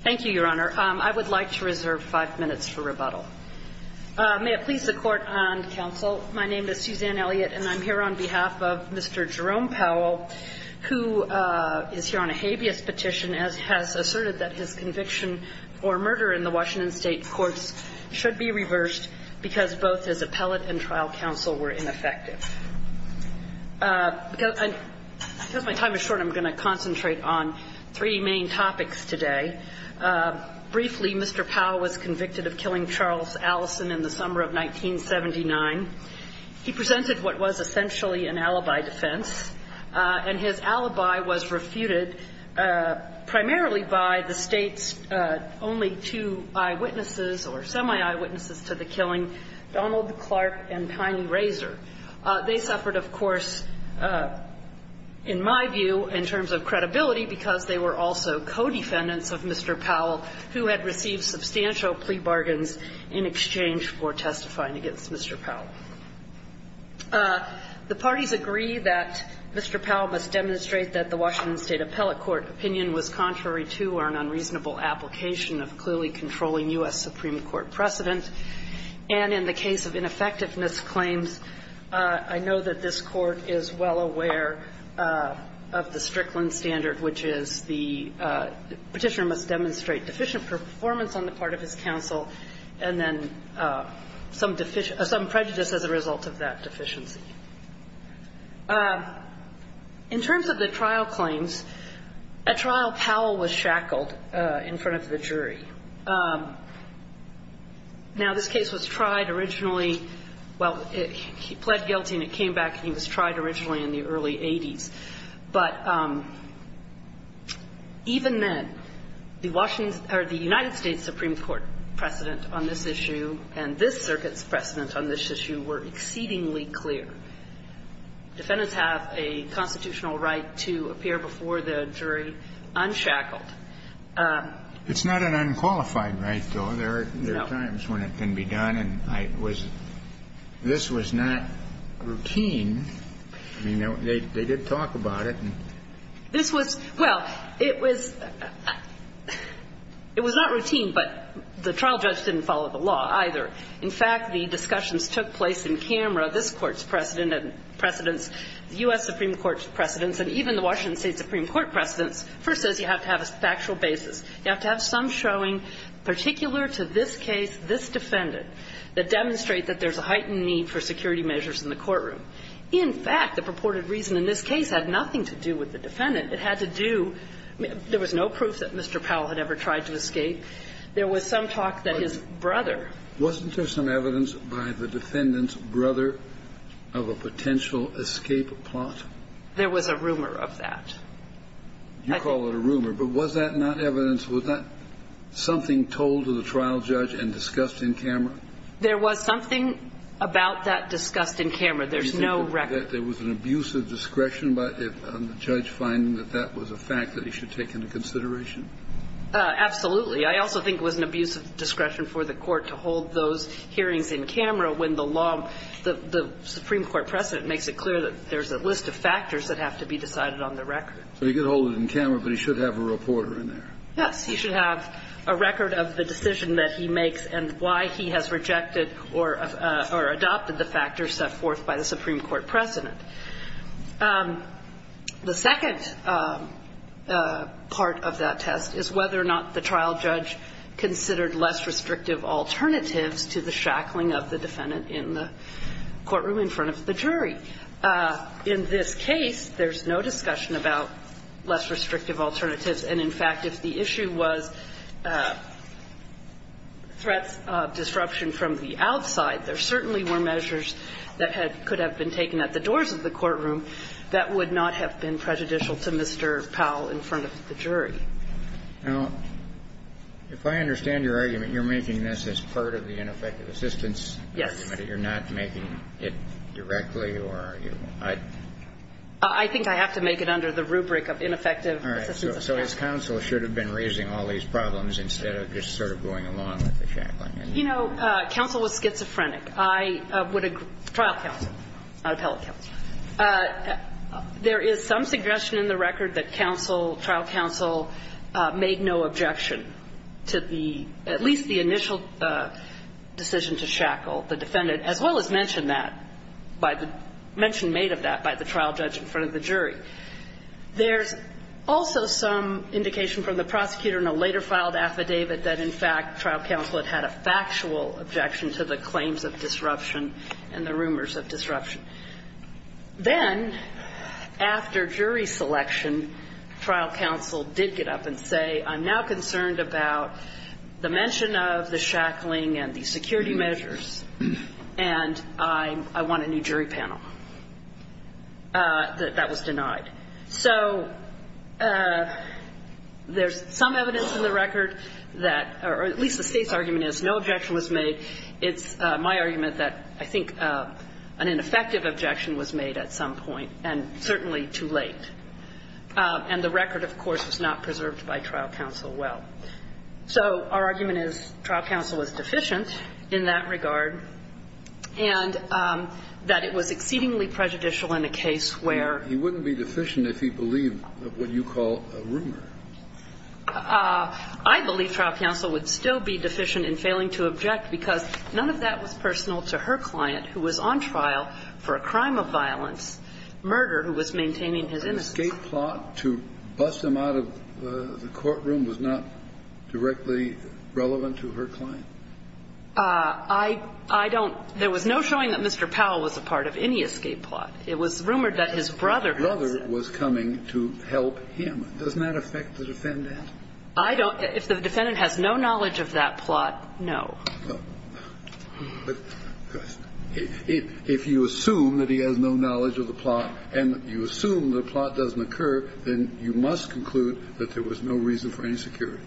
Thank you, Your Honor. I would like to reserve five minutes for rebuttal. May it please the Court and counsel, my name is Suzanne Elliott and I'm here on behalf of Mr. Jerome Powell, who is here on a habeas petition as has asserted that his conviction for murder in the Washington State courts should be reversed because both his appellate and trial counsel were ineffective. Because my time is short, I'm going to concentrate on three main topics today. Briefly, Mr. Powell was convicted of killing Charles Allison in the summer of 1979. He presented what was essentially an alibi defense, and his alibi was refuted primarily by the State's only two eyewitnesses or semi-eyewitnesses to the killing, Donald Clark and Tiny Razor. They suffered, of course, in my view, in terms of credibility, because they were also co-defendants of Mr. Powell, who had received substantial plea bargains in exchange for testifying against Mr. Powell. The parties agree that Mr. Powell must demonstrate that the Washington State appellate court opinion was contrary to or an unreasonable application of clearly controlling U.S. Supreme Court precedent, and in the case of ineffectiveness claims, I know that this Court is well aware of the Strickland standard, which is the Petitioner must demonstrate deficient performance on the part of his counsel and then some deficit or some prejudice as a result of that deficiency. In terms of the trial claims, at trial, Powell was shackled in front of the jury. Now, this case was tried originally – well, he pled guilty and it came back and he was tried originally in the early 80s, but even then, the Washington – or the United States Supreme Court precedent on this issue and this circuit's precedent on this issue were exceedingly clear. Defendants have a constitutional right to appear before the jury unshackled. It's not an unqualified right, though. There are times when it can be done, and I was – this was not routine. I mean, they did talk about it. This was – well, it was not routine, but the trial judge didn't follow the law either. In fact, the discussions took place in camera. This Court's precedent and precedents, the U.S. Supreme Court's precedents and even the Washington State Supreme Court precedents, first says you have to have a factual basis. You have to have some showing particular to this case, this defendant, that demonstrate that there's a heightened need for security measures in the courtroom. In fact, the purported reason in this case had nothing to do with the defendant. It had to do – there was no proof that Mr. Powell had ever tried to escape. There was some talk that his brother – Kennedy. Wasn't there some evidence by the defendant's brother of a potential escape plot? There was a rumor of that. You call it a rumor, but was that not evidence? Was that something told to the trial judge and discussed in camera? There was something about that discussed in camera. There's no record. You think that there was an abuse of discretion by the judge finding that that was a fact that he should take into consideration? Absolutely. I also think it was an abuse of discretion for the Court to hold those hearings in camera when the law – the Supreme Court precedent makes it clear that there's a list of factors that have to be decided on the record. So he could hold it in camera, but he should have a reporter in there. Yes. He should have a record of the decision that he makes and why he has rejected or adopted the factors set forth by the Supreme Court precedent. The second part of that test is whether or not the trial judge considered less restrictive alternatives to the shackling of the defendant in the courtroom in front of the jury. In this case, there's no discussion about less restrictive alternatives. And, in fact, if the issue was threats of disruption from the outside, there certainly were measures that had – could have been taken at the doors of the courtroom that would not have been prejudicial to Mr. Powell in front of the jury. Now, if I understand your argument, you're making this as part of the ineffective assistance? Yes. But you're not making it directly, or are you – I – I think I have to make it under the rubric of ineffective assistance. All right. So his counsel should have been raising all these problems instead of just sort of going along with the shackling. You know, counsel was schizophrenic. I would – trial counsel. I would tell counsel. There is some suggestion in the record that counsel – trial counsel made no objection to the – at least the initial decision to shackle the defendant, as well as mention that by the – mention made of that by the trial judge in front of the jury. There's also some indication from the prosecutor in a later filed affidavit that, in fact, trial counsel had had a factual objection to the claims of disruption and the rumors of disruption. Then, after jury selection, trial counsel did get up and say, I'm now concerned about the mention of the shackling and the security measures, and I – I want a new jury panel. That was denied. So there's some evidence in the record that – or at least the State's argument is no objection was made. It's my argument that I think an ineffective objection was made at some point, and certainly too late. And the record, of course, was not preserved by trial counsel well. So our argument is trial counsel was deficient in that regard, and that it was exceedingly prejudicial in a case where – He wouldn't be deficient if he believed what you call a rumor. I believe trial counsel would still be deficient in failing to object because none of that was personal to her client, who was on trial for a crime of violence, murder, who was maintaining his innocence. An escape plot to bust him out of the courtroom was not directly relevant to her client? I don't – there was no showing that Mr. Powell was a part of any escape plot. It was rumored that his brother was coming to help him. Does that affect the defendant? I don't – if the defendant has no knowledge of that plot, no. But if you assume that he has no knowledge of the plot and you assume the plot doesn't occur, then you must conclude that there was no reason for insecurity.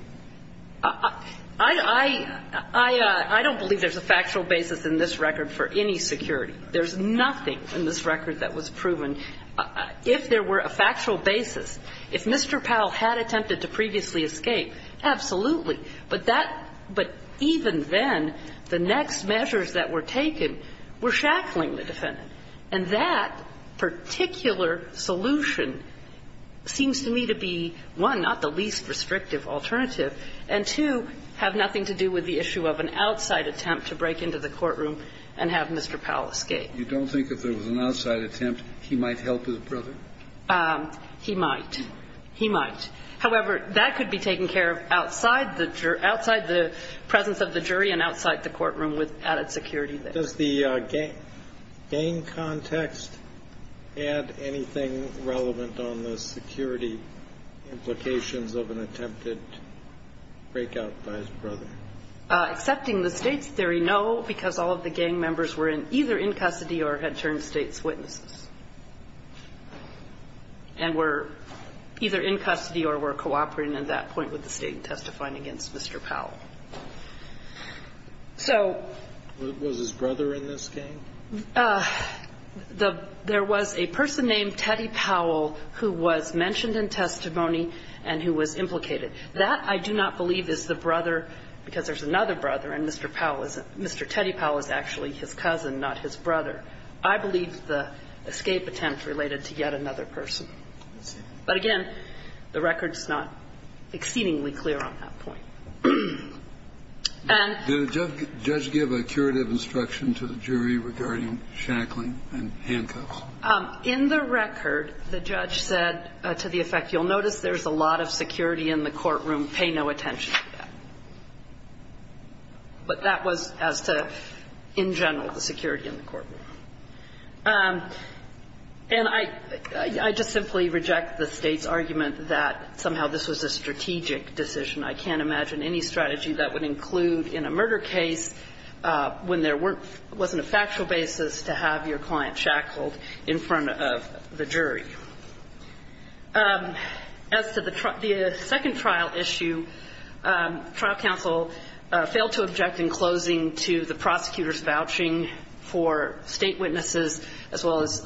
I don't believe there's a factual basis in this record for any security. There's nothing in this record that was proven. If there were a factual basis, if Mr. Powell had attempted to previously escape, absolutely. But that – but even then, the next measures that were taken were shackling the defendant. And that particular solution seems to me to be, one, not the least restrictive alternative, and, two, have nothing to do with the issue of an outside attempt to break into the courtroom and have Mr. Powell escape. You don't think if there was an outside attempt, he might help his brother? He might. He might. However, that could be taken care of outside the presence of the jury and outside the courtroom with added security there. Does the gang context add anything relevant on the security implications of an attempted breakout by his brother? Accepting the State's theory, no, because all of the gang members were in – either in custody or had turned State's witnesses and were either in custody or were cooperating at that point with the State in testifying against Mr. Powell. So – Was his brother in this gang? The – there was a person named Teddy Powell who was mentioned in testimony and who was implicated. That, I do not believe, is the brother, because there's another brother and Mr. Powell isn't – Mr. Teddy Powell is actually his cousin, not his brother. I believe the escape attempt related to yet another person. But, again, the record's not exceedingly clear on that point. And – Did the judge give a curative instruction to the jury regarding shackling and handcuffs? In the record, the judge said to the effect, you'll notice there's a lot of security in the courtroom. Pay no attention to that. But that was as to, in general, the security in the courtroom. And I – I just simply reject the State's argument that somehow this was a strategic decision. I can't imagine any strategy that would include in a murder case when there weren't – wasn't a factual basis to have your client shackled in front of the jury. As to the second trial issue, trial counsel failed to object in closing to the prosecutor's vouching for State witnesses as well as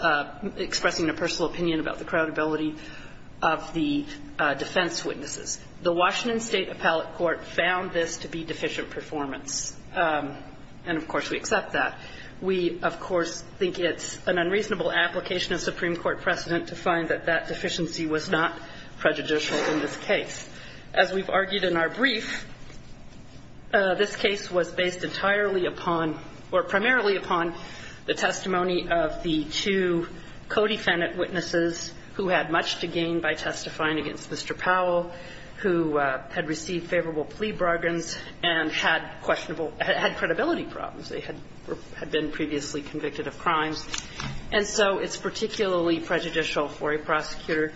expressing a personal opinion about the credibility of the defense witnesses. The Washington State Appellate Court found this to be deficient performance. And, of course, we accept that. We, of course, think it's an unreasonable application of Supreme Court precedent to find that that deficiency was not prejudicial in this case. As we've argued in our brief, this case was based entirely upon – or primarily upon the testimony of the two co-defendant witnesses who had much to gain by testifying against Mr. Powell, who had received favorable plea bargains and had questionable – had credibility problems. They had been previously convicted of crimes. And so it's particularly prejudicial for a prosecutor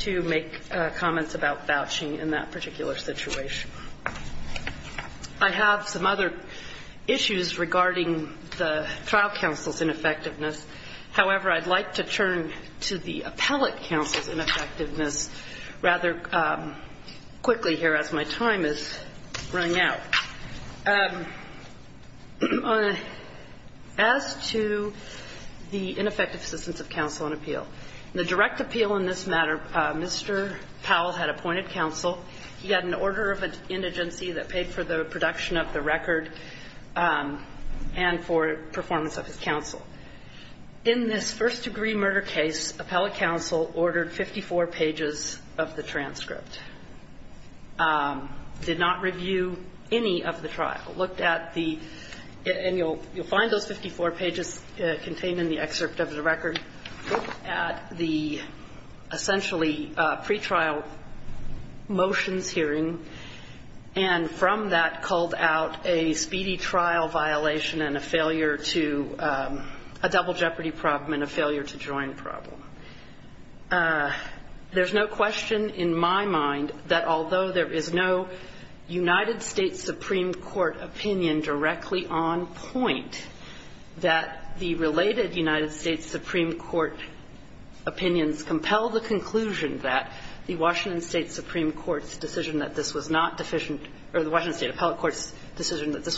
to make comments about vouching in that particular situation. I have some other issues regarding the trial counsel's ineffectiveness. However, I'd like to turn to the appellate counsel's ineffectiveness rather quickly here as my time is running out. As to the ineffective assistance of counsel on appeal, the direct appeal in this matter, Mr. Powell had appointed counsel. He had an order of indigency that paid for the production of the record and for performance of his counsel. In this first-degree murder case, appellate counsel ordered 54 pages of the transcript, did not review any of the trial, looked at the – and you'll find those 54 pages contained in the excerpt of the record – looked at the essentially pretrial motions hearing, and from that called out a speedy trial violation and a failure to – a double jeopardy problem and a failure to join problem. There's no question in my mind that although there is no United States Supreme Court opinion directly on point, that the related United States Supreme Court opinions compel the conclusion that the Washington State Supreme Court's decision that this was not deficient – or the Washington State appellate court's decision that this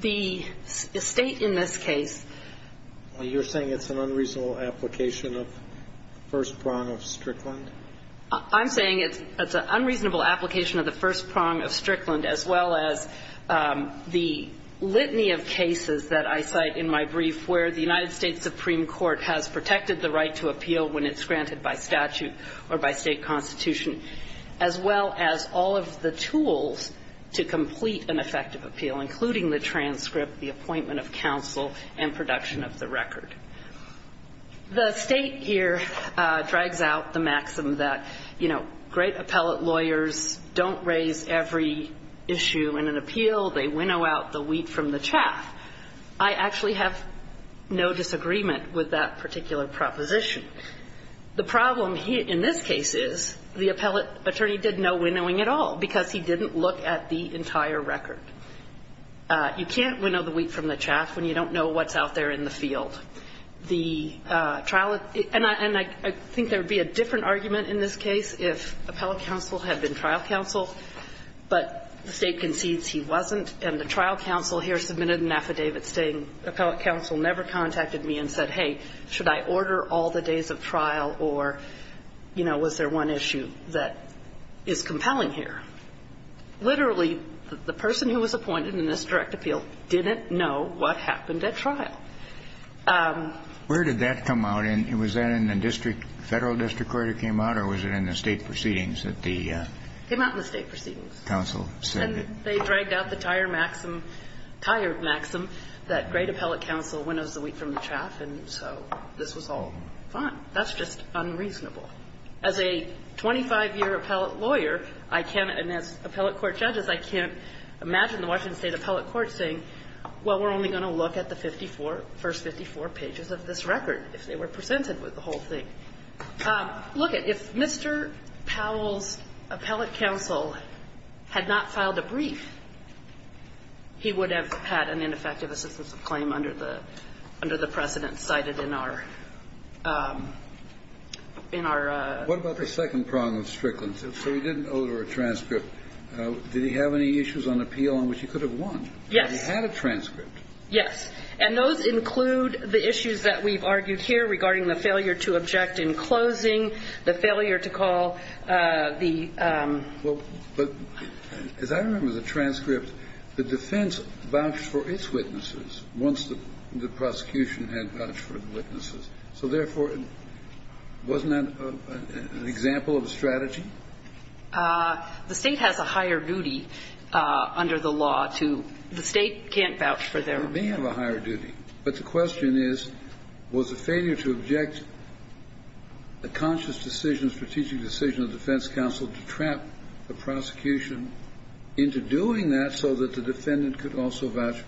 The State in this case – You're saying it's an unreasonable application of the first prong of Strickland? I'm saying it's an unreasonable application of the first prong of Strickland, as well as the litany of cases that I cite in my brief where the United States Supreme Court has protected the right to appeal when it's granted by statute or by state constitution, as well as all of the tools to complete an effective appeal, including the transcript, the appointment of counsel, and production of the record. The State here drags out the maxim that, you know, great appellate lawyers don't raise every issue in an appeal. They winnow out the wheat from the chaff. I actually have no disagreement with that particular proposition. The problem in this case is the appellate attorney did no winnowing at all because he didn't look at the entire record. You can't winnow the wheat from the chaff when you don't know what's out there in the field. The trial – and I think there would be a different argument in this case if appellate counsel had been trial counsel, but the State concedes he wasn't, and the trial counsel here submitted an affidavit saying appellate counsel never contacted me and said, hey, should I order all the days of trial or, you know, was there one issue that is compelling here? Literally, the person who was appointed in this direct appeal didn't know what happened at trial. Where did that come out? And was that in the district – federal district court it came out, or was it in the State proceedings that the – It came out in the State proceedings. Counsel said that – And they dragged out the tire maxim – tired maxim that great appellate counsel winnows the wheat from the chaff, and so this was all fine. That's just unreasonable. As a 25-year appellate lawyer, I can't – and as appellate court judges, I can't imagine the Washington State appellate court saying, well, we're only going to look at the 54 – first 54 pages of this record if they were presented with the whole thing. Look, if Mr. Powell's appellate counsel had not filed a brief, he would have had an ineffective assistance of claim under the – under the precedent cited in our – in our – What about the second problem with Strickland? So he didn't odor a transcript. Did he have any issues on appeal on which he could have won? Yes. He had a transcript. Yes. And those include the issues that we've argued here regarding the failure to object in closing, the failure to call the – Well, but as I remember the transcript, the defense vouched for its witnesses once the prosecution had vouched for the witnesses. So therefore, wasn't that an example of a strategy? The State has a higher duty under the law to – the State can't vouch for their witnesses. It may have a higher duty, but the question is, was the failure to object a conscious decision, a strategic decision of the defense counsel to trap the prosecution into doing that so that the defendant could also vouch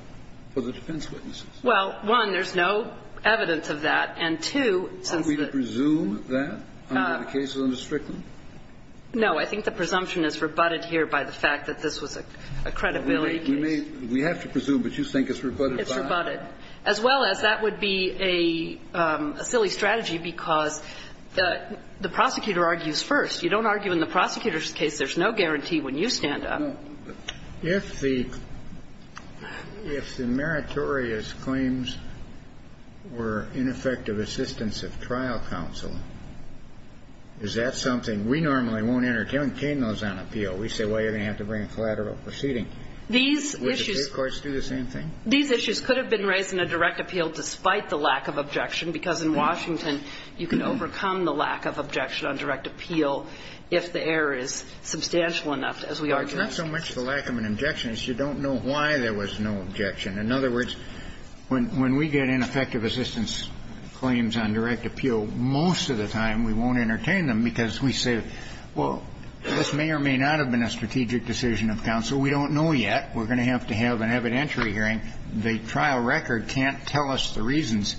for the defense witnesses? Well, one, there's no evidence of that. And two, since the – Are we to presume that under the cases under Strickland? No. I think the presumption is rebutted here by the fact that this was a credibility case. We may – we have to presume, but you think it's rebutted by – It's rebutted. As well as that would be a silly strategy because the prosecutor argues first. You don't argue in the prosecutor's case. There's no guarantee when you stand up. Well, if the – if the meritorious claims were ineffective assistance of trial counsel, is that something – we normally won't entertain those on appeal. We say, well, you're going to have to bring a collateral proceeding. These issues – Would the State courts do the same thing? These issues could have been raised in a direct appeal despite the lack of objection because in Washington you can overcome the lack of objection on direct appeal if the error is substantial enough, as we argue. It's not so much the lack of an objection as you don't know why there was no objection. In other words, when we get ineffective assistance claims on direct appeal, most of the time we won't entertain them because we say, well, this may or may not have been a strategic decision of counsel. We don't know yet. We're going to have to have an evidentiary hearing. The trial record can't tell us the reasons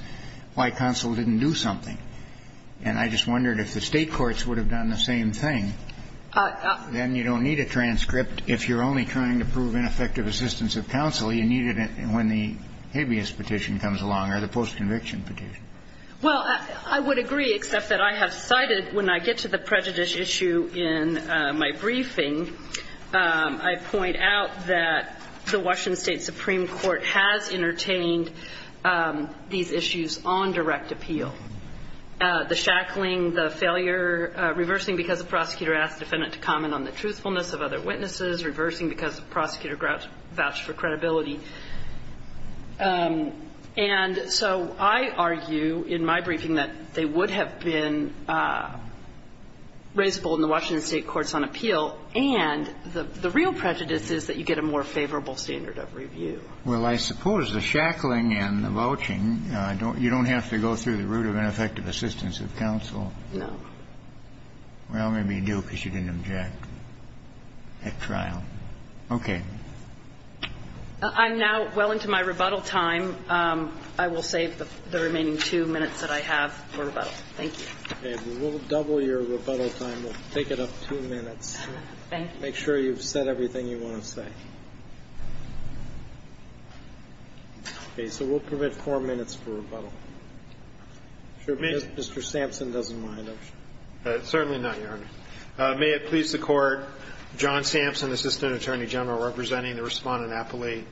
why counsel didn't do something. And I just wondered if the State courts would have done the same thing. Then you don't need a transcript if you're only trying to prove ineffective assistance of counsel. You need it when the habeas petition comes along or the post-conviction petition. Well, I would agree, except that I have cited, when I get to the prejudice issue in my briefing, I point out that the Washington State Supreme Court has entertained these issues on direct appeal. The shackling, the failure, reversing because the prosecutor asked the defendant to comment on the truthfulness of other witnesses, reversing because the prosecutor vouched for credibility. And so I argue in my briefing that they would have been raisable in the Washington State courts on appeal, and the real prejudice is that you get a more favorable standard of review. Well, I suppose the shackling and the vouching, you don't have to go through the root of ineffective assistance of counsel. No. Well, maybe you do because you didn't object at trial. Okay. I'm now well into my rebuttal time. I will save the remaining two minutes that I have for rebuttal. Thank you. Okay. We'll double your rebuttal time. We'll take it up two minutes. Thank you. Make sure you've said everything you want to say. Okay. So we'll permit four minutes for rebuttal. If Mr. Sampson doesn't mind. Certainly not, Your Honor. May it please the Court, John Sampson, Assistant Attorney General, representing the respondent appellee.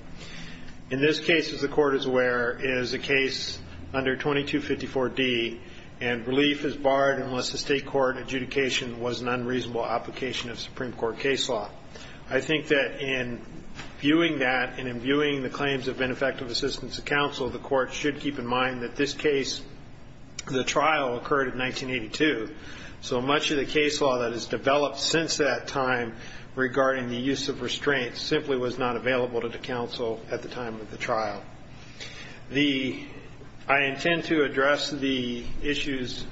In this case, as the Court is aware, is a case under 2254D, and relief is barred unless the state court adjudication was an unreasonable application of Supreme Court case law. I think that in viewing that and in viewing the claims of ineffective assistance of counsel, the Court should keep in mind that this case, the trial, occurred in 1982. So much of the case law that has developed since that time regarding the use of restraints simply was not available to counsel at the time of the trial. I intend to address the issues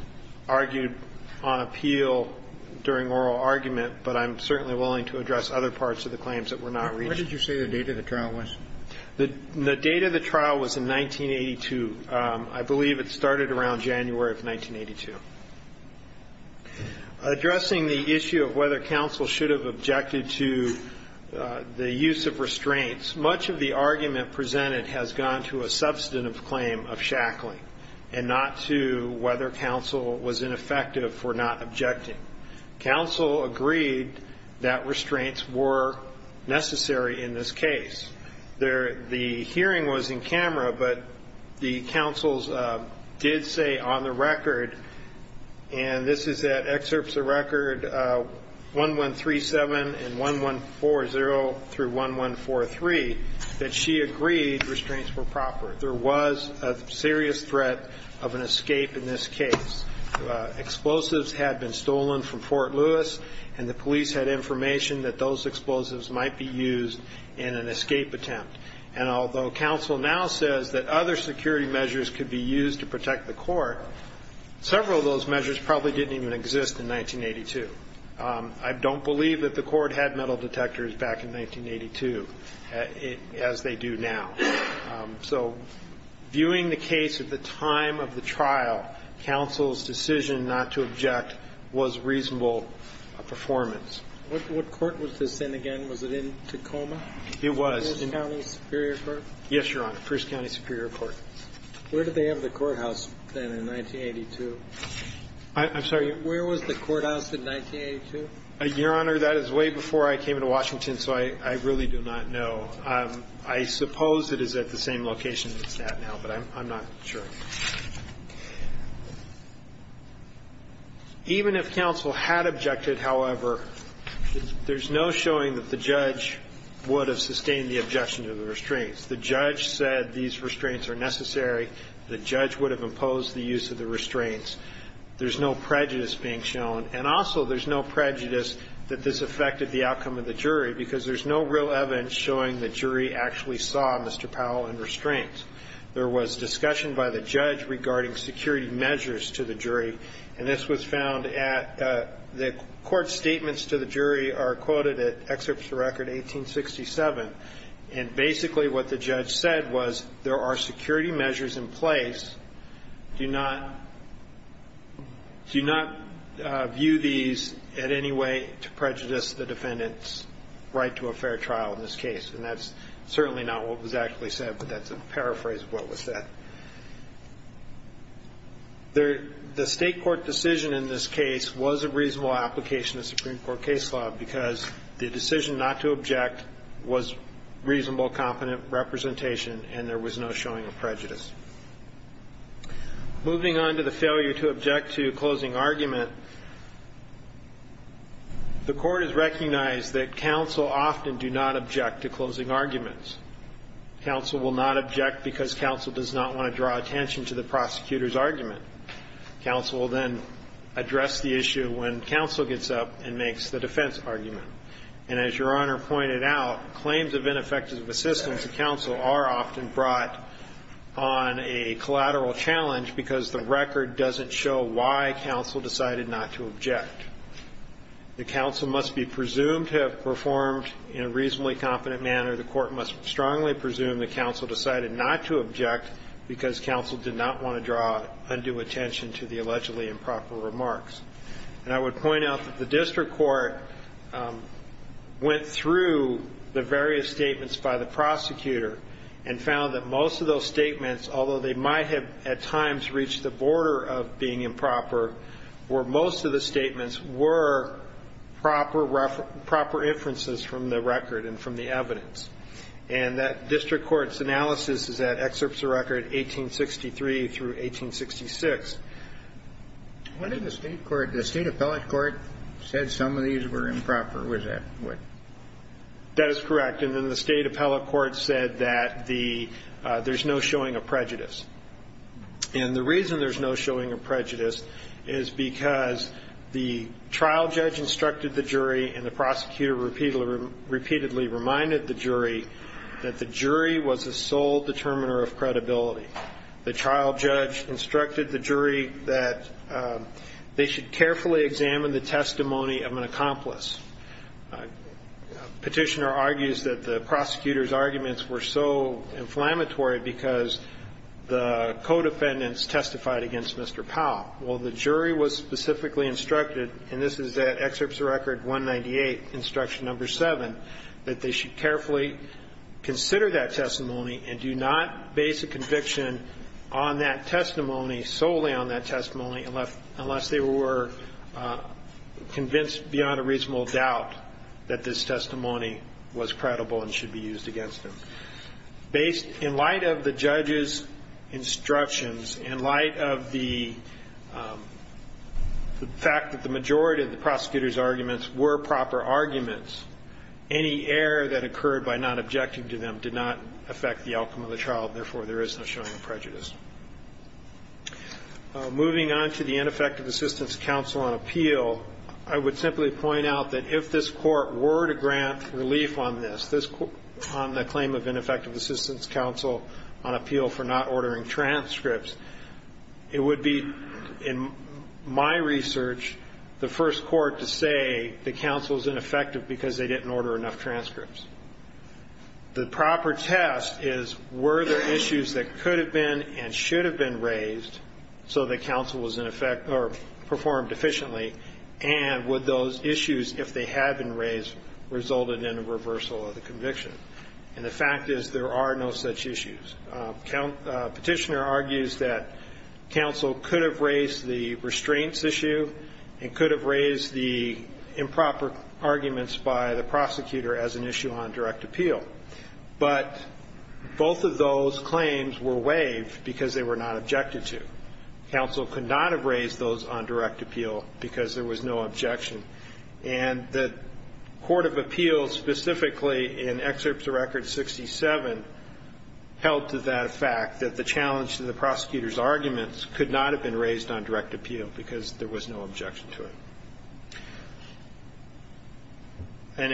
argued on appeal during oral argument, but I'm certainly willing to address other parts of the claims that were not reached. What did you say the date of the trial was? The date of the trial was in 1982. I believe it started around January of 1982. Addressing the issue of whether counsel should have objected to the use of restraints, much of the argument presented has gone to a substantive claim of shackling and not to whether counsel was ineffective for not objecting. Counsel agreed that restraints were necessary in this case. The hearing was in camera, but the counsels did say on the record, and this is at excerpts of record 1137 and 1140 through 1143, that she agreed restraints were proper. There was a serious threat of an escape in this case. Explosives had been stolen from Fort Lewis, and the police had information that those explosives might be used in an escape attempt. And although counsel now says that other security measures could be used to protect the court, several of those measures probably didn't even exist in 1982. I don't believe that the court had metal detectors back in 1982, as they do now. So viewing the case at the time of the trial, counsel's decision not to object was reasonable performance. What court was this in again? Was it in Tacoma? It was. First County Superior Court? Yes, Your Honor. First County Superior Court. Where did they have the courthouse then in 1982? I'm sorry. Where was the courthouse in 1982? Your Honor, that is way before I came into Washington, so I really do not know. I suppose it is at the same location it's at now, but I'm not sure. Even if counsel had objected, however, there's no showing that the judge would have sustained the objection to the restraints. The judge said these restraints are necessary. The judge would have imposed the use of the restraints. There's no prejudice being shown. And also there's no prejudice that this affected the outcome of the jury, because there's no real evidence showing the jury actually saw Mr. Powell in restraints. There was discussion by the judge regarding security measures to the jury, and this was found at the court statements to the jury are quoted at Excerpts of Record 1867. And basically what the judge said was there are security measures in place. Do not view these in any way to prejudice the defendant's right to a fair trial in this case. And that's certainly not what was actually said, but that's a paraphrase of what was said. The state court decision in this case was a reasonable application of Supreme Court case law because the decision not to object was reasonable, competent representation, and there was no showing of prejudice. Moving on to the failure to object to closing argument, the court has recognized that counsel often do not object to closing arguments. Counsel will not object because counsel does not want to draw attention to the prosecutor's argument. Counsel will then address the issue when counsel gets up and makes the defense argument. And as Your Honor pointed out, claims of ineffective assistance to counsel are often brought on a collateral challenge because the record doesn't show why counsel decided not to object. The counsel must be presumed to have performed in a reasonably competent manner. The court must strongly presume that counsel decided not to object because counsel did not want to draw undue attention to the allegedly improper remarks. And I would point out that the district court went through the various statements by the prosecutor and found that most of those statements, although they might have at times reached the border of being improper, where most of the statements were proper inferences from the record and from the evidence. And that district court's analysis is at excerpts of record 1863 through 1866. The state appellate court said some of these were improper, was that right? That is correct. And then the state appellate court said that there's no showing of prejudice. And the reason there's no showing of prejudice is because the trial judge instructed the jury and the prosecutor repeatedly reminded the jury that the jury was the sole determiner of credibility. The trial judge instructed the jury that they should carefully examine the testimony of an accomplice, and this Petitioner argues that the prosecutor's arguments were so inflammatory because the codefendants testified against Mr. Powell. Well, the jury was specifically instructed, and this is at excerpts of record 198, instruction number 7, that they should carefully consider that testimony and do not base a conviction on that testimony, solely on that testimony, unless they were convinced beyond a reasonable doubt that this testimony was credible and should be used against them. In light of the judge's instructions, in light of the fact that the majority of the prosecutor's arguments were proper arguments, any error that occurred by not objecting to them did not affect the outcome of the trial, and therefore there is no showing of prejudice. Moving on to the Ineffective Assistance Counsel on Appeal, I would simply point out that if this Court were to grant relief on this, on the claim of Ineffective Assistance Counsel on Appeal for not ordering transcripts, it would be, in my research, the first court to say the counsel is ineffective because they didn't order enough transcripts. The proper test is were there issues that could have been and should have been raised so the counsel was in effect or performed efficiently, and would those issues, if they had been raised, resulted in a reversal of the conviction? And the fact is there are no such issues. Petitioner argues that counsel could have raised the restraints issue and could have raised the improper arguments by the prosecutor as an issue on direct appeal, but both of those claims were waived because they were not objected to. Counsel could not have raised those on direct appeal because there was no objection. And the court of appeals specifically in Excerpts of Record 67 held to that fact that the challenge to the prosecutor's arguments could not have been raised on direct appeal because there was no objection to it. And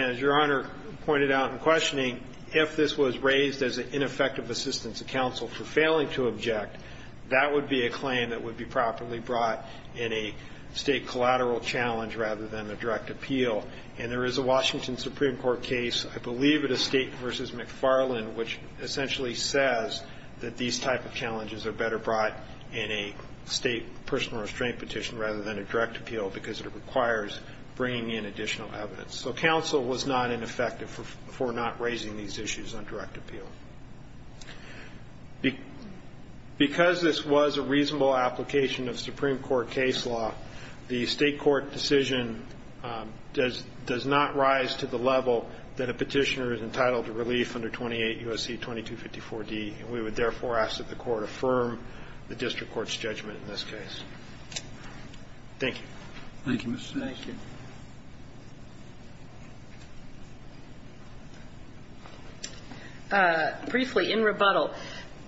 as Your Honor pointed out in questioning, if this was raised as an ineffective assistance to counsel for failing to object, that would be a claim that would be properly brought in a State collateral challenge rather than a direct appeal. And there is a Washington Supreme Court case, I believe it is State v. McFarland, which essentially says that these type of challenges are better brought in a State personal restraint petition rather than a direct appeal because it requires bringing in additional evidence. So counsel was not ineffective for not raising these issues on direct appeal. Because this was a reasonable application of Supreme Court case law, the State court decision does not rise to the level that a petitioner is entitled to relief under 28 U.S.C. 2254d, and we would therefore ask that the court affirm the district court's judgment in this case. Thank you. Thank you, Mr. Chief. Thank you. Briefly, in rebuttal,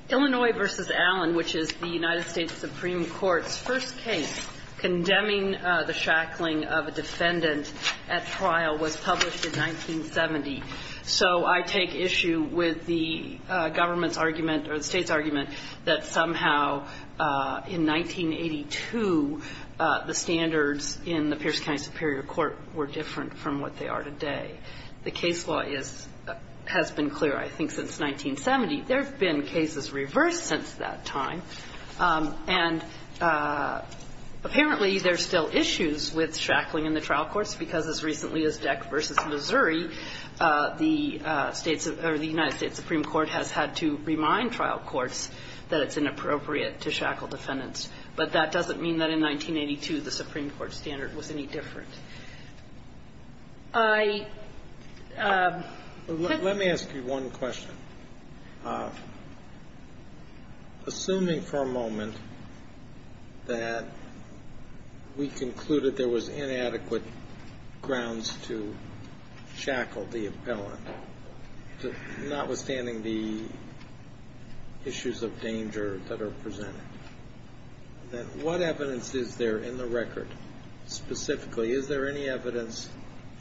Illinois v. Allen, which is the United States Supreme Court's first case condemning the shackling of a defendant at trial was published in 1970. So I take issue with the government's argument or the State's argument that somehow in 1982 the standards in the Pierce County Superior Court were different from what they are today. The case law is – has been clear, I think, since 1970. There have been cases reversed since that time. And apparently there are still issues with shackling in the trial courts because as recently as Deck v. Missouri, the United States Supreme Court has had to remind trial courts that it's inappropriate to shackle defendants. But that doesn't mean that in 1982 the Supreme Court standard was any different. Let me ask you one question. Assuming for a moment that we concluded there was inadequate grounds to shackle the appellant, notwithstanding the issues of danger that are presented, then what evidence is there in the record specifically? Is there any evidence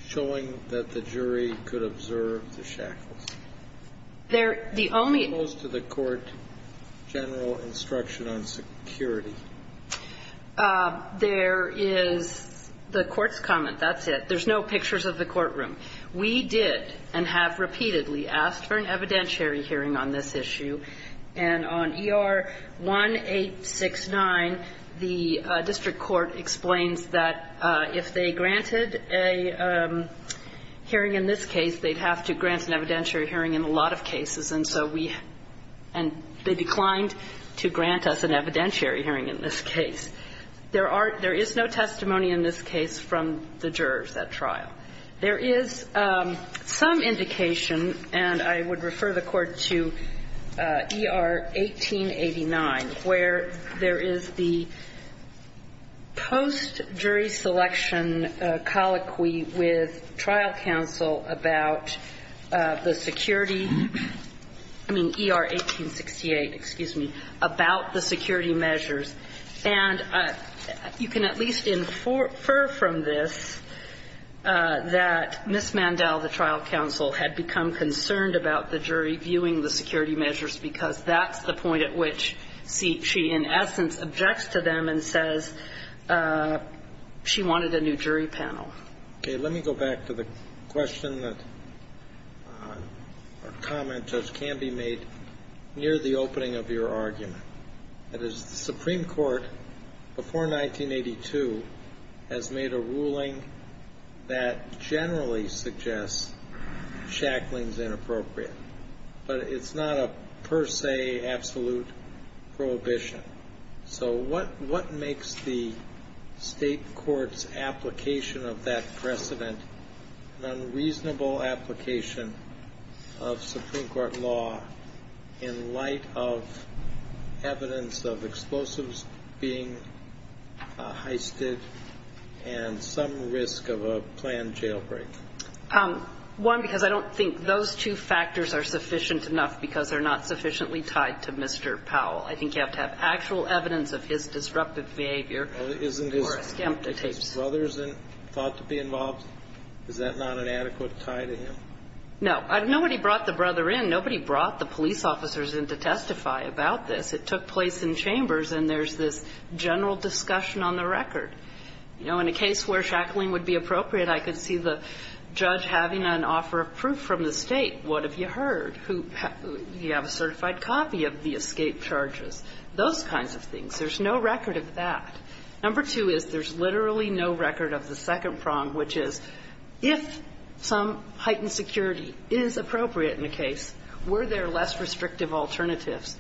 showing that the jury could observe the shackles? There – the only – What goes to the court general instruction on security? There is the court's comment. That's it. There's no pictures of the courtroom. We did and have repeatedly asked for an evidentiary hearing on this issue. And on ER 1869, the district court explains that if they granted a hearing in this case, they'd have to grant an evidentiary hearing in a lot of cases. And so we – and they declined to grant us an evidentiary hearing in this case. There are – there is no testimony in this case from the jurors at trial. There is some indication, and I would refer the Court to ER 1889, where there is the post-jury selection colloquy with trial counsel about the security – I mean ER 1868, excuse me – about the security measures. And you can at least infer from this that Ms. Mandel, the trial counsel, had become concerned about the jury viewing the security measures because that's the point at which she in essence objects to them and says she wanted a new jury panel. Okay. Let me go back to the question that – or comment that can be made near the opening of your argument. That is, the Supreme Court before 1982 has made a ruling that generally suggests shackling's inappropriate. But it's not a per se absolute prohibition. So what makes the state court's application of that precedent an unreasonable application of Supreme Court law in light of evidence of explosives being heisted and some risk of a planned jailbreak? One, because I don't think those two factors are sufficient enough because they're not sufficiently tied to Mr. Powell. I think you have to have actual evidence of his disruptive behavior for a scam to take place. If his brother is thought to be involved, is that not an adequate tie to him? No. Nobody brought the brother in. Nobody brought the police officers in to testify about this. It took place in chambers, and there's this general discussion on the record. You know, in a case where shackling would be appropriate, I could see the judge having an offer of proof from the State. What have you heard? Do you have a certified copy of the escape charges? Those kinds of things. There's no record of that. Number two is there's literally no record of the second prong, which is if some heightened security is appropriate in a case, were there less restrictive alternatives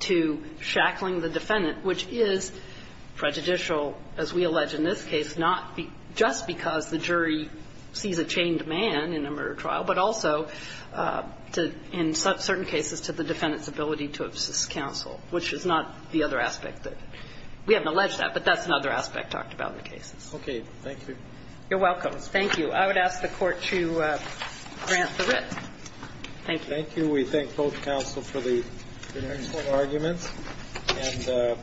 to shackling the defendant, which is prejudicial, as we allege in this case, not just because the jury sees a chained man in a murder trial, but also in certain cases to the defendant's ability to assist counsel, which is not the other aspect that we haven't alleged that. But that's another aspect talked about in the cases. Okay. Thank you. You're welcome. Thank you. I would ask the Court to grant the writ. Thank you. Thank you. We thank both counsel for the excellent arguments.